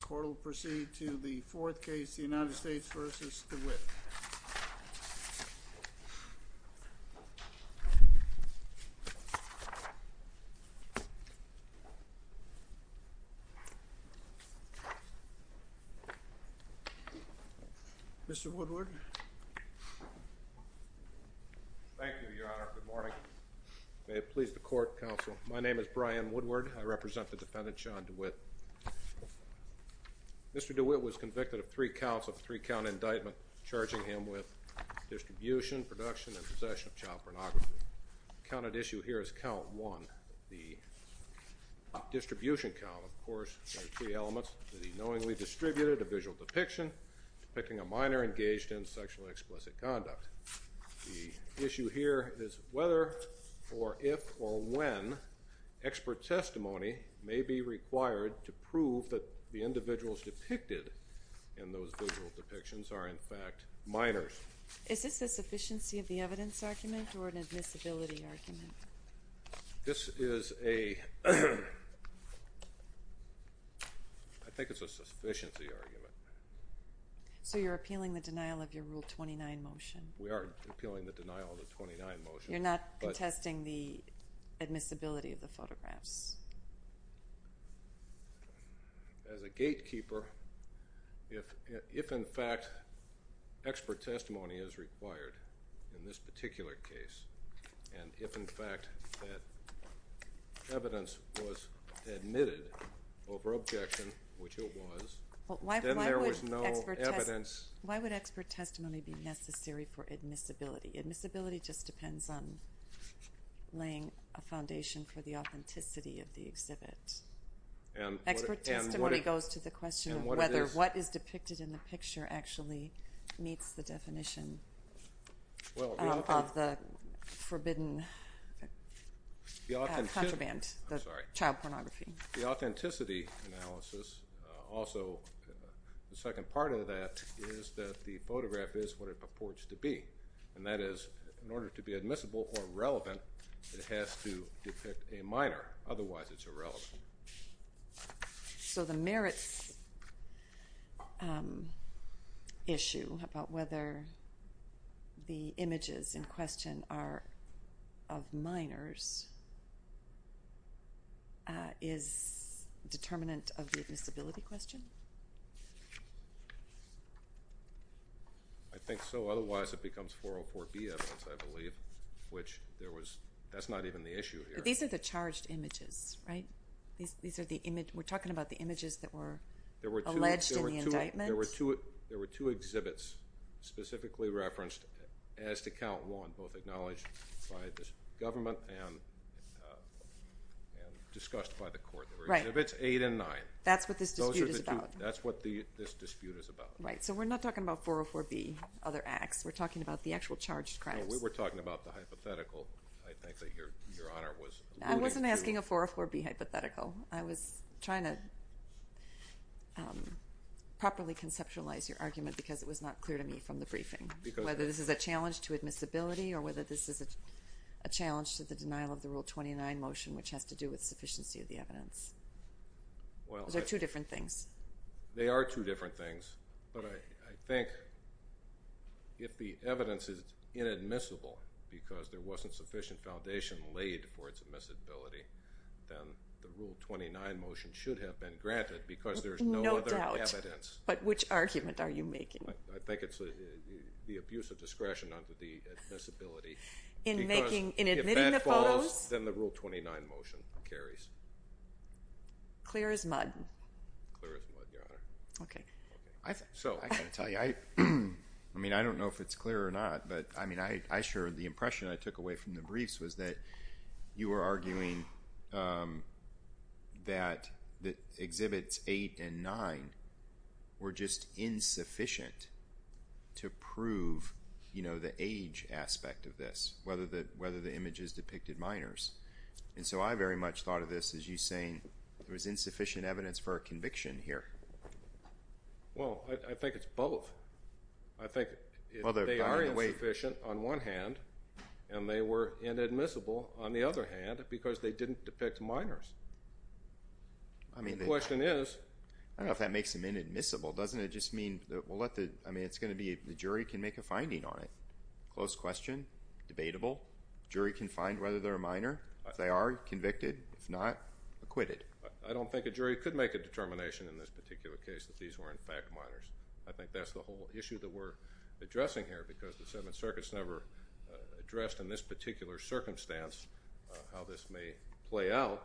The court will proceed to the fourth case, the United States v. Dewitt. Mr. Woodward. Thank you, Your Honor. Good morning. May it please the court, counsel. My name is Brian Woodward. I represent the defendant, Shawn Dewitt. Mr. Dewitt was convicted of three counts of three-count indictment, charging him with distribution, production, and possession of child pornography. Counted issue here is count one. The distribution count, of course, has three elements, the knowingly distributed, a visual depiction, depicting a minor engaged in sexually explicit conduct. The issue here is whether or if or when expert testimony may be required to prove that the individuals depicted in those visual depictions are, in fact, minors. Is this a sufficiency of the evidence argument or an admissibility argument? This is a, I think it's a sufficiency argument. So you're appealing the denial of your Rule 29 motion? We are appealing the denial of the Rule 29 motion. You're not contesting the admissibility of the photographs? As a gatekeeper, if in fact expert testimony is required in this particular case, and if in fact that evidence was admitted over objection, which it was, then there was no evidence. Why would expert testimony be necessary for admissibility? Admissibility just depends on laying a foundation for the authenticity of the exhibit. Expert testimony goes to the question of whether what is depicted in the picture actually meets the definition of the forbidden contraband, the child pornography. The authenticity analysis, also the second part of that is that the photograph is what it purports to be, and that is in order to be admissible or relevant, it has to depict a minor. Otherwise, it's irrelevant. So the merits issue about whether the images in question are of minors is determinant of the admissibility question? I think so. Otherwise, it becomes 404B evidence, I believe, which there was, that's not even the issue here. These are the charged images, right? We're talking about the images that were alleged in the indictment? There were two exhibits specifically referenced, as to count one, both acknowledged by the government and discussed by the court. There were exhibits eight and nine. That's what this dispute is about. Those are the two. That's what this dispute is about. Right. So we're not talking about 404B, other acts. We're talking about the actual charged crimes. No, we were talking about the hypothetical, I think, that Your Honor was alluding to. I wasn't asking a 404B hypothetical. I was trying to properly conceptualize your argument because it was not clear to me from the briefing, whether this is a challenge to admissibility or whether this is a challenge to the denial of the Rule 29 motion, which has to do with sufficiency of the evidence. Those are two different things. They are two different things, but I think if the evidence is inadmissible because there wasn't sufficient foundation laid for its admissibility, then the Rule 29 motion should have been granted because there's no other evidence. No doubt. But which argument are you making? I think it's the abuse of discretion under the admissibility. In admitting the photos? Because if that falls, then the Rule 29 motion carries. Clear as mud. Clear as mud, Your Honor. Okay. So, I've got to tell you, I mean, I don't know if it's clear or not, but I mean, I sure, the impression I took away from the briefs was that you were arguing that Exhibits 8 and 9 were just insufficient to prove, you know, the age aspect of this, whether the images depicted minors, and so I very much thought of this as you saying there was insufficient evidence for a conviction here. Well, I think it's both. I think they are insufficient on one hand, and they were inadmissible on the other hand because they didn't depict minors. The question is— I don't know if that makes them inadmissible. Doesn't it just mean—I mean, it's going to be—the jury can make a finding on it. Close question. Debatable. The jury can find whether they're a minor. If they are, convicted. If not, acquitted. I don't think a jury could make a determination in this particular case that these were, in fact, minors. I think that's the whole issue that we're addressing here because the Seventh Circuit has never addressed in this particular circumstance how this may play out.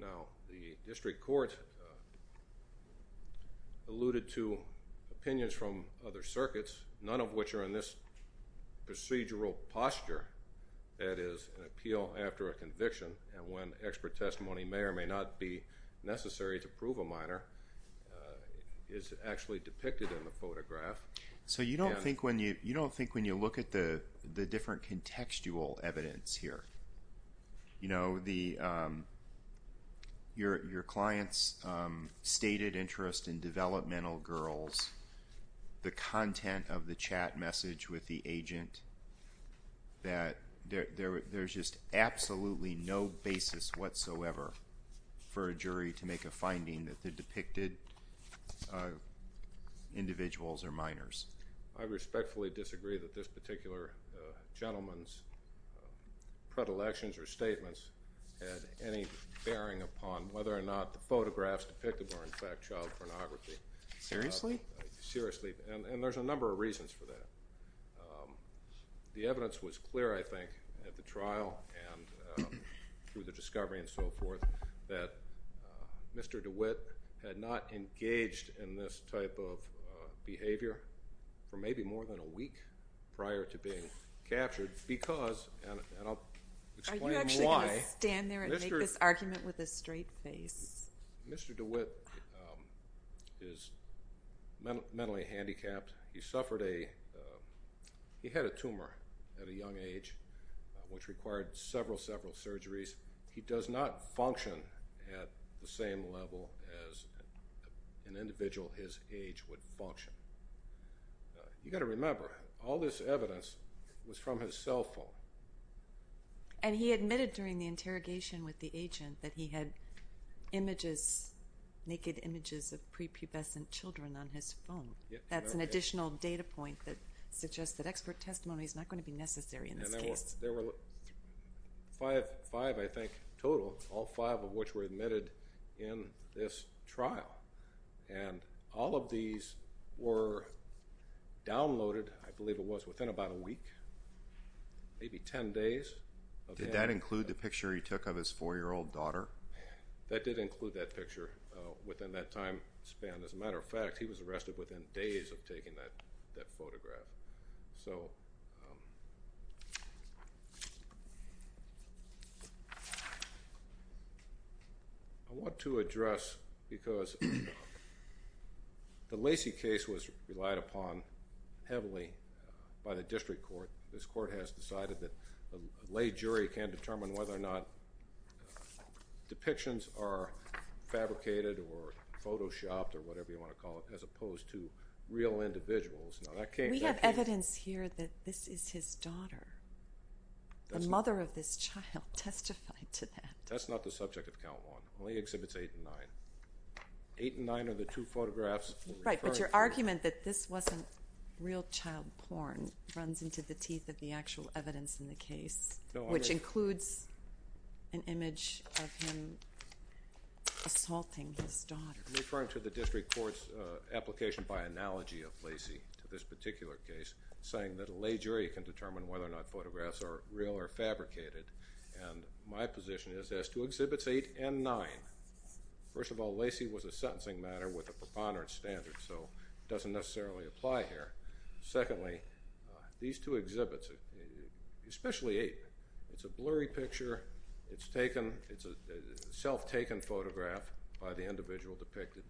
Now, the District Court alluded to opinions from other circuits, none of which are in this procedural posture, that is, an appeal after a conviction and when expert testimony may or may not be necessary to prove a minor is actually depicted in the photograph. So you don't think when you look at the different contextual evidence here, you know, your client's stated interest in developmental girls, the content of the chat message with the agent, that there's just absolutely no basis whatsoever for a jury to make a finding that the depicted individuals are minors? I respectfully disagree that this particular gentleman's predilections or statements had any bearing upon whether or not the photographs depicted were, in fact, child pornography. Seriously? Seriously. And there's a number of reasons for that. The evidence was clear, I think, at the trial and through the discovery and so forth that Mr. DeWitt had not engaged in this type of behavior for maybe more than a week prior to being captured because—and I'll explain why. Are you actually going to stand there and make this argument with a straight face? Mr. DeWitt is mentally handicapped. He suffered a—he had a tumor at a young age, which required several, several surgeries. He does not function at the same level as an individual his age would function. You've got to remember, all this evidence was from his cell phone. And he admitted during the interrogation with the agent that he had images, naked images of prepubescent children on his phone. That's an additional data point that suggests that expert testimony is not going to be necessary in this case. There were five, I think, total, all five of which were admitted in this trial. And all of these were downloaded, I believe it was, within about a week, maybe ten days. Did that include the picture he took of his four-year-old daughter? That did include that picture within that time span. As a matter of fact, he was arrested within days of taking that photograph. So, I want to address, because the Lacey case was relied upon heavily by the district court. This court has decided that a lay jury can determine whether or not depictions are fabricated or photoshopped or whatever you want to call it, as opposed to real individuals. We have evidence here that this is his daughter. The mother of this child testified to that. That's not the subject of count one. It only exhibits eight and nine. Eight and nine are the two photographs. Right, but your argument that this wasn't real child porn runs into the teeth of the actual evidence in the case, which includes an image of him assaulting his daughter. I'm referring to the district court's application by analogy of Lacey to this particular case, saying that a lay jury can determine whether or not photographs are real or fabricated, and my position is as to exhibits eight and nine. First of all, Lacey was a sentencing matter with a preponderance standard, so it doesn't necessarily apply here. Secondly, these two exhibits, especially eight, it's a blurry picture. It's a self-taken photograph by the individual depicted.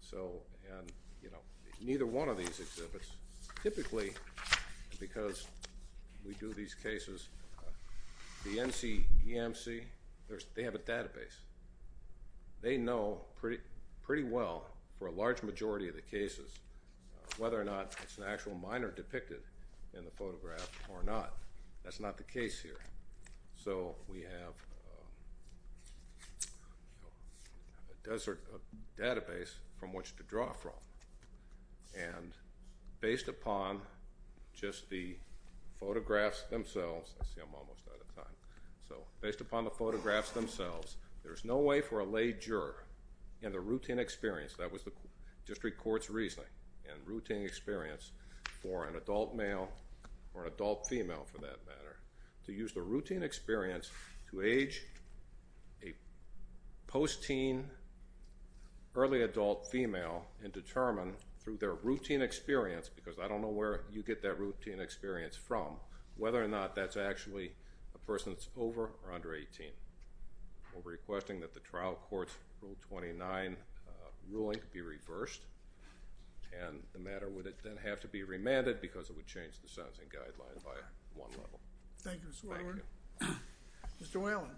So neither one of these exhibits typically, because we do these cases, the NCEMC, they have a database. They know pretty well for a large majority of the cases whether or not it's an actual minor depicted in the photograph or not. That's not the case here. So we have a desert database from which to draw from, and based upon just the photographs themselves, I see I'm almost out of time, so based upon the photographs themselves, there's no way for a lay juror in the routine experience, that was the district court's reasoning, and routine experience for an adult male or an adult female, for that matter, to use the routine experience to age a post-teen, early adult female and determine through their routine experience, because I don't know where you get that routine experience from, whether or not that's actually a person that's over or under 18. We're requesting that the trial court's Rule 29 ruling be reversed, and the matter would then have to be remanded because it would change the sentencing guideline by one level. Thank you, Mr. Whalen. Mr. Whalen.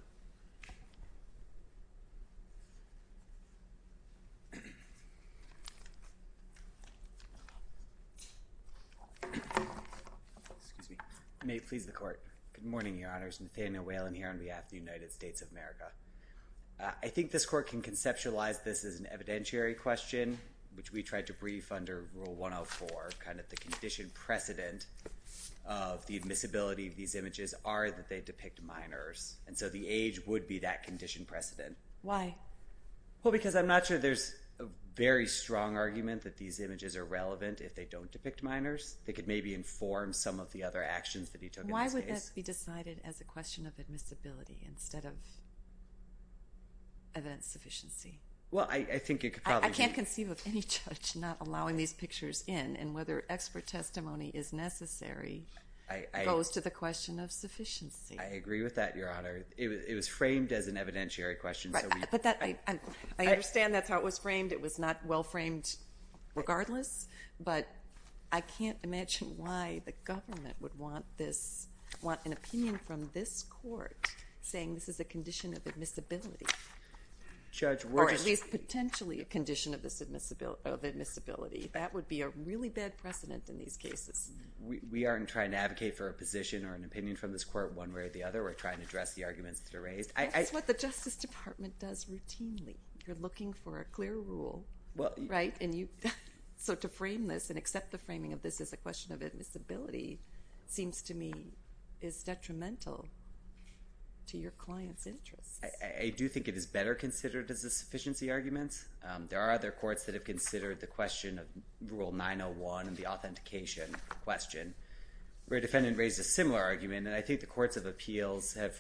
Excuse me. May it please the court. Good morning, Your Honors. Nathaniel Whalen here on behalf of the United States of America. I think this court can conceptualize this as an evidentiary question, which we tried to brief under Rule 104, kind of the condition precedent of the admissibility of these images are that they depict minors, and so the age would be that condition precedent. Why? Well, because I'm not sure there's a very strong argument that these images are relevant if they don't depict minors. Why would this be decided as a question of admissibility instead of evidence sufficiency? Well, I think it could probably be. I can't conceive of any judge not allowing these pictures in, and whether expert testimony is necessary goes to the question of sufficiency. I agree with that, Your Honor. It was framed as an evidentiary question. Right, but I understand that's how it was framed. It was not well-framed regardless, but I can't imagine why the government would want an opinion from this court saying this is a condition of admissibility, or at least potentially a condition of admissibility. That would be a really bad precedent in these cases. We aren't trying to advocate for a position or an opinion from this court one way or the other. We're trying to address the arguments that are raised. That's what the Justice Department does routinely. You're looking for a clear rule, right? So to frame this and accept the framing of this as a question of admissibility seems to me is detrimental to your client's interests. I do think it is better considered as a sufficiency argument. There are other courts that have considered the question of Rule 901, the authentication question, where a defendant raised a similar argument, and I think the courts of appeals have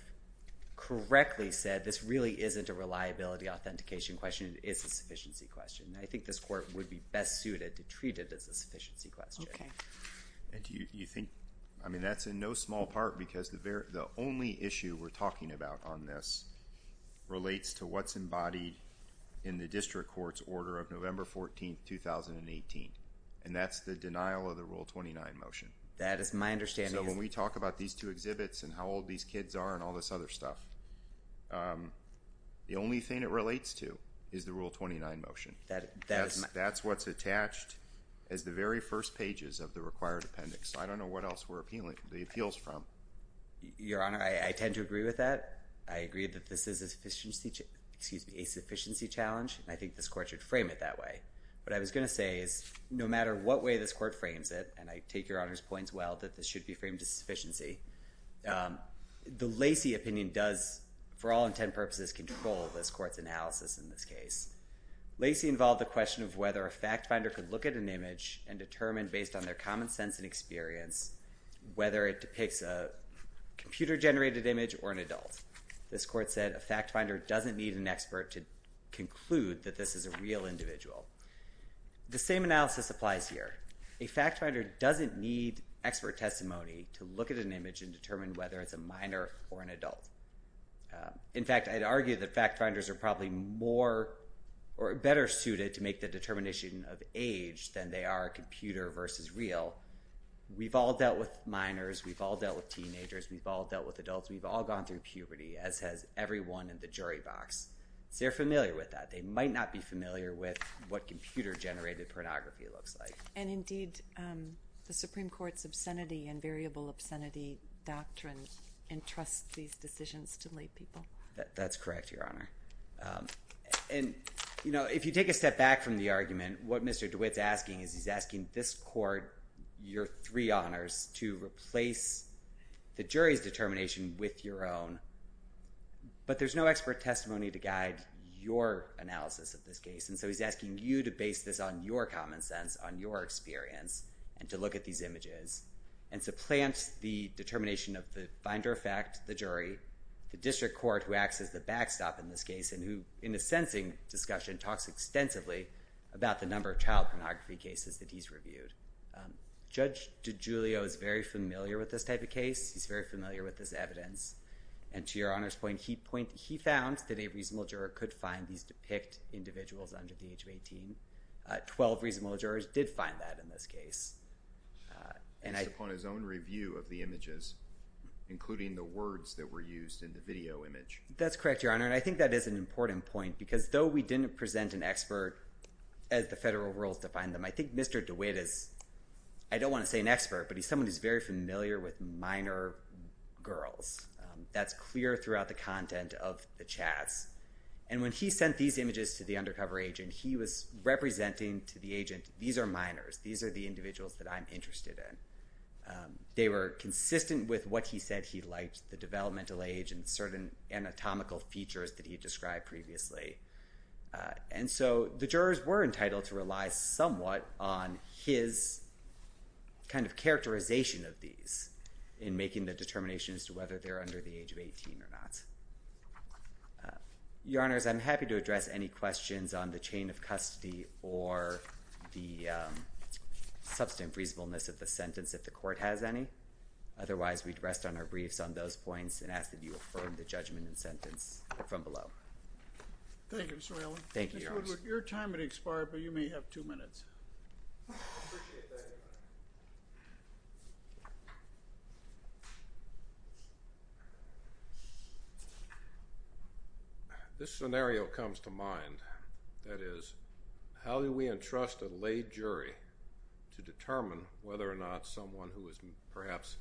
correctly said this really isn't a reliability authentication question. It is a sufficiency question, and I think this court would be best suited to treat it as a sufficiency question. Okay. And do you think—I mean, that's in no small part because the only issue we're talking about on this relates to what's embodied in the district court's order of November 14, 2018, and that's the denial of the Rule 29 motion. That is my understanding. So when we talk about these two exhibits and how old these kids are and all this other stuff, the only thing it relates to is the Rule 29 motion. That's what's attached as the very first pages of the required appendix. I don't know what else we're appealing the appeals from. Your Honor, I tend to agree with that. I agree that this is a sufficiency—excuse me, a sufficiency challenge, and I think this court should frame it that way. What I was going to say is no matter what way this court frames it, and I take Your Honor's points well that this should be framed as sufficiency, the Lacey opinion does, for all intent and purposes, control this court's analysis in this case. Lacey involved the question of whether a fact finder could look at an image and determine based on their common sense and experience whether it depicts a computer-generated image or an adult. This court said a fact finder doesn't need an expert to conclude that this is a real individual. The same analysis applies here. A fact finder doesn't need expert testimony to look at an image and determine whether it's a minor or an adult. In fact, I'd argue that fact finders are probably more or better suited to make the determination of age than they are computer versus real. We've all dealt with minors. We've all dealt with teenagers. We've all dealt with adults. We've all gone through puberty, as has everyone in the jury box. They're familiar with that. They might not be familiar with what computer-generated pornography looks like. And indeed, the Supreme Court's obscenity and variable obscenity doctrine entrusts these decisions to lay people. That's correct, Your Honor. And, you know, if you take a step back from the argument, what Mr. DeWitt's asking is he's asking this court, your three honors, to replace the jury's determination with your own. But there's no expert testimony to guide your analysis of this case, and so he's asking you to base this on your common sense, on your experience, and to look at these images and to plant the determination of the finder of fact, the jury, the district court who acts as the backstop in this case and who, in a sensing discussion, talks extensively about the number of child pornography cases that he's reviewed. Judge DiGiulio is very familiar with this type of case. He's very familiar with this evidence. And to Your Honor's point, he found that a reasonable juror could find these depicted individuals under the age of 18. Twelve reasonable jurors did find that in this case. Based upon his own review of the images, including the words that were used in the video image. That's correct, Your Honor, and I think that is an important point because though we didn't present an expert, as the federal rules define them, I think Mr. DeWitt is, I don't want to say an expert, but he's someone who's very familiar with minor girls. That's clear throughout the content of the chats. And when he sent these images to the undercover agent, he was representing to the agent, these are minors, these are the individuals that I'm interested in. They were consistent with what he said he liked, the developmental age and certain anatomical features that he described previously. And so the jurors were entitled to rely somewhat on his kind of characterization of these in making the determination as to whether they're under the age of 18 or not. Your Honors, I'm happy to address any questions on the chain of custody or the substantive reasonableness of the sentence if the court has any. Otherwise, we'd rest on our briefs on those points and ask that you affirm the judgment and sentence from below. Thank you, Mr. Raley. Thank you, Your Honors. Mr. Woodward, your time has expired, but you may have two minutes. I appreciate that, Your Honor. This scenario comes to mind. That is, how do we entrust a laid jury to determine whether or not someone who is perhaps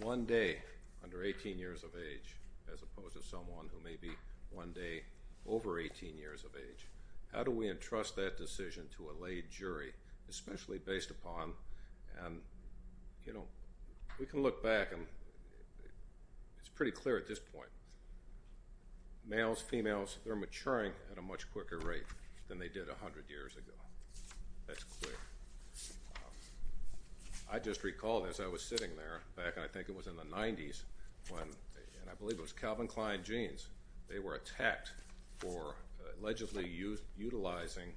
one day under 18 years of age as opposed to someone who may be one day over 18 years of age, how do we entrust that decision to a laid jury, especially based upon, you know, we can look back and it's pretty clear at this point. Males, females, they're maturing at a much quicker rate than they did 100 years ago. That's clear. I just recalled as I was sitting there back, I think it was in the 90s, when, and I believe it was Calvin Klein Jeans, they were attacked for allegedly utilizing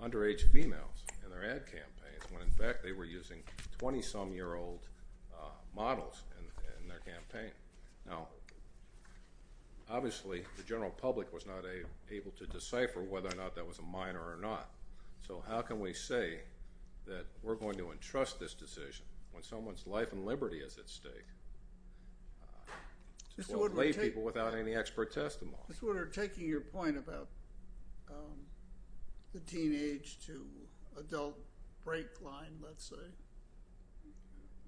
underage females in their ad campaigns when, in fact, they were using 20-some-year-old models in their campaign. Now, obviously, the general public was not able to decipher whether or not that was a minor or not, so how can we say that we're going to entrust this decision when someone's life and liberty is at stake to lay people without any expert testimony? Mr. Woodward, taking your point about the teenage to adult break line, let's say,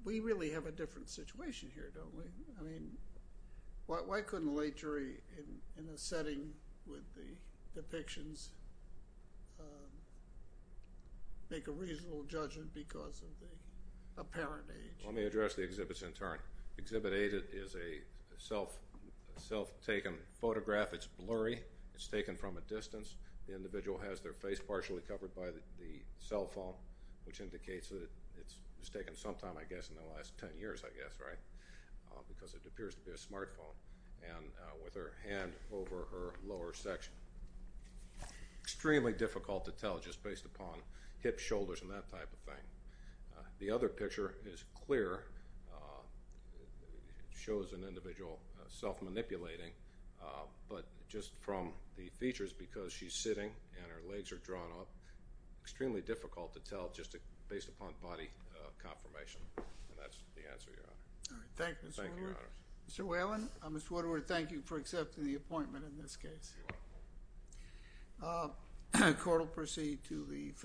we really have a different situation here, don't we? I mean, why couldn't a laid jury in a setting with the depictions make a reasonable judgment because of the apparent age? Let me address the exhibits in turn. Exhibit A is a self-taken photograph. It's blurry. It's taken from a distance. The individual has their face partially covered by the cell phone, which indicates that it's taken some time, I guess, in the last 10 years, I guess, right? Because it appears to be a smartphone, and with her hand over her lower section. Extremely difficult to tell just based upon hip, shoulders, and that type of thing. The other picture is clear, shows an individual self-manipulating, but just from the features, because she's sitting and her legs are drawn up, extremely difficult to tell just based upon body confirmation, and that's the answer you're on. Thank you. Thank you, Your Honor. Mr. Whalen, I'm going to thank you for accepting the appointment in this case. You're welcome. Court will proceed to the federal court.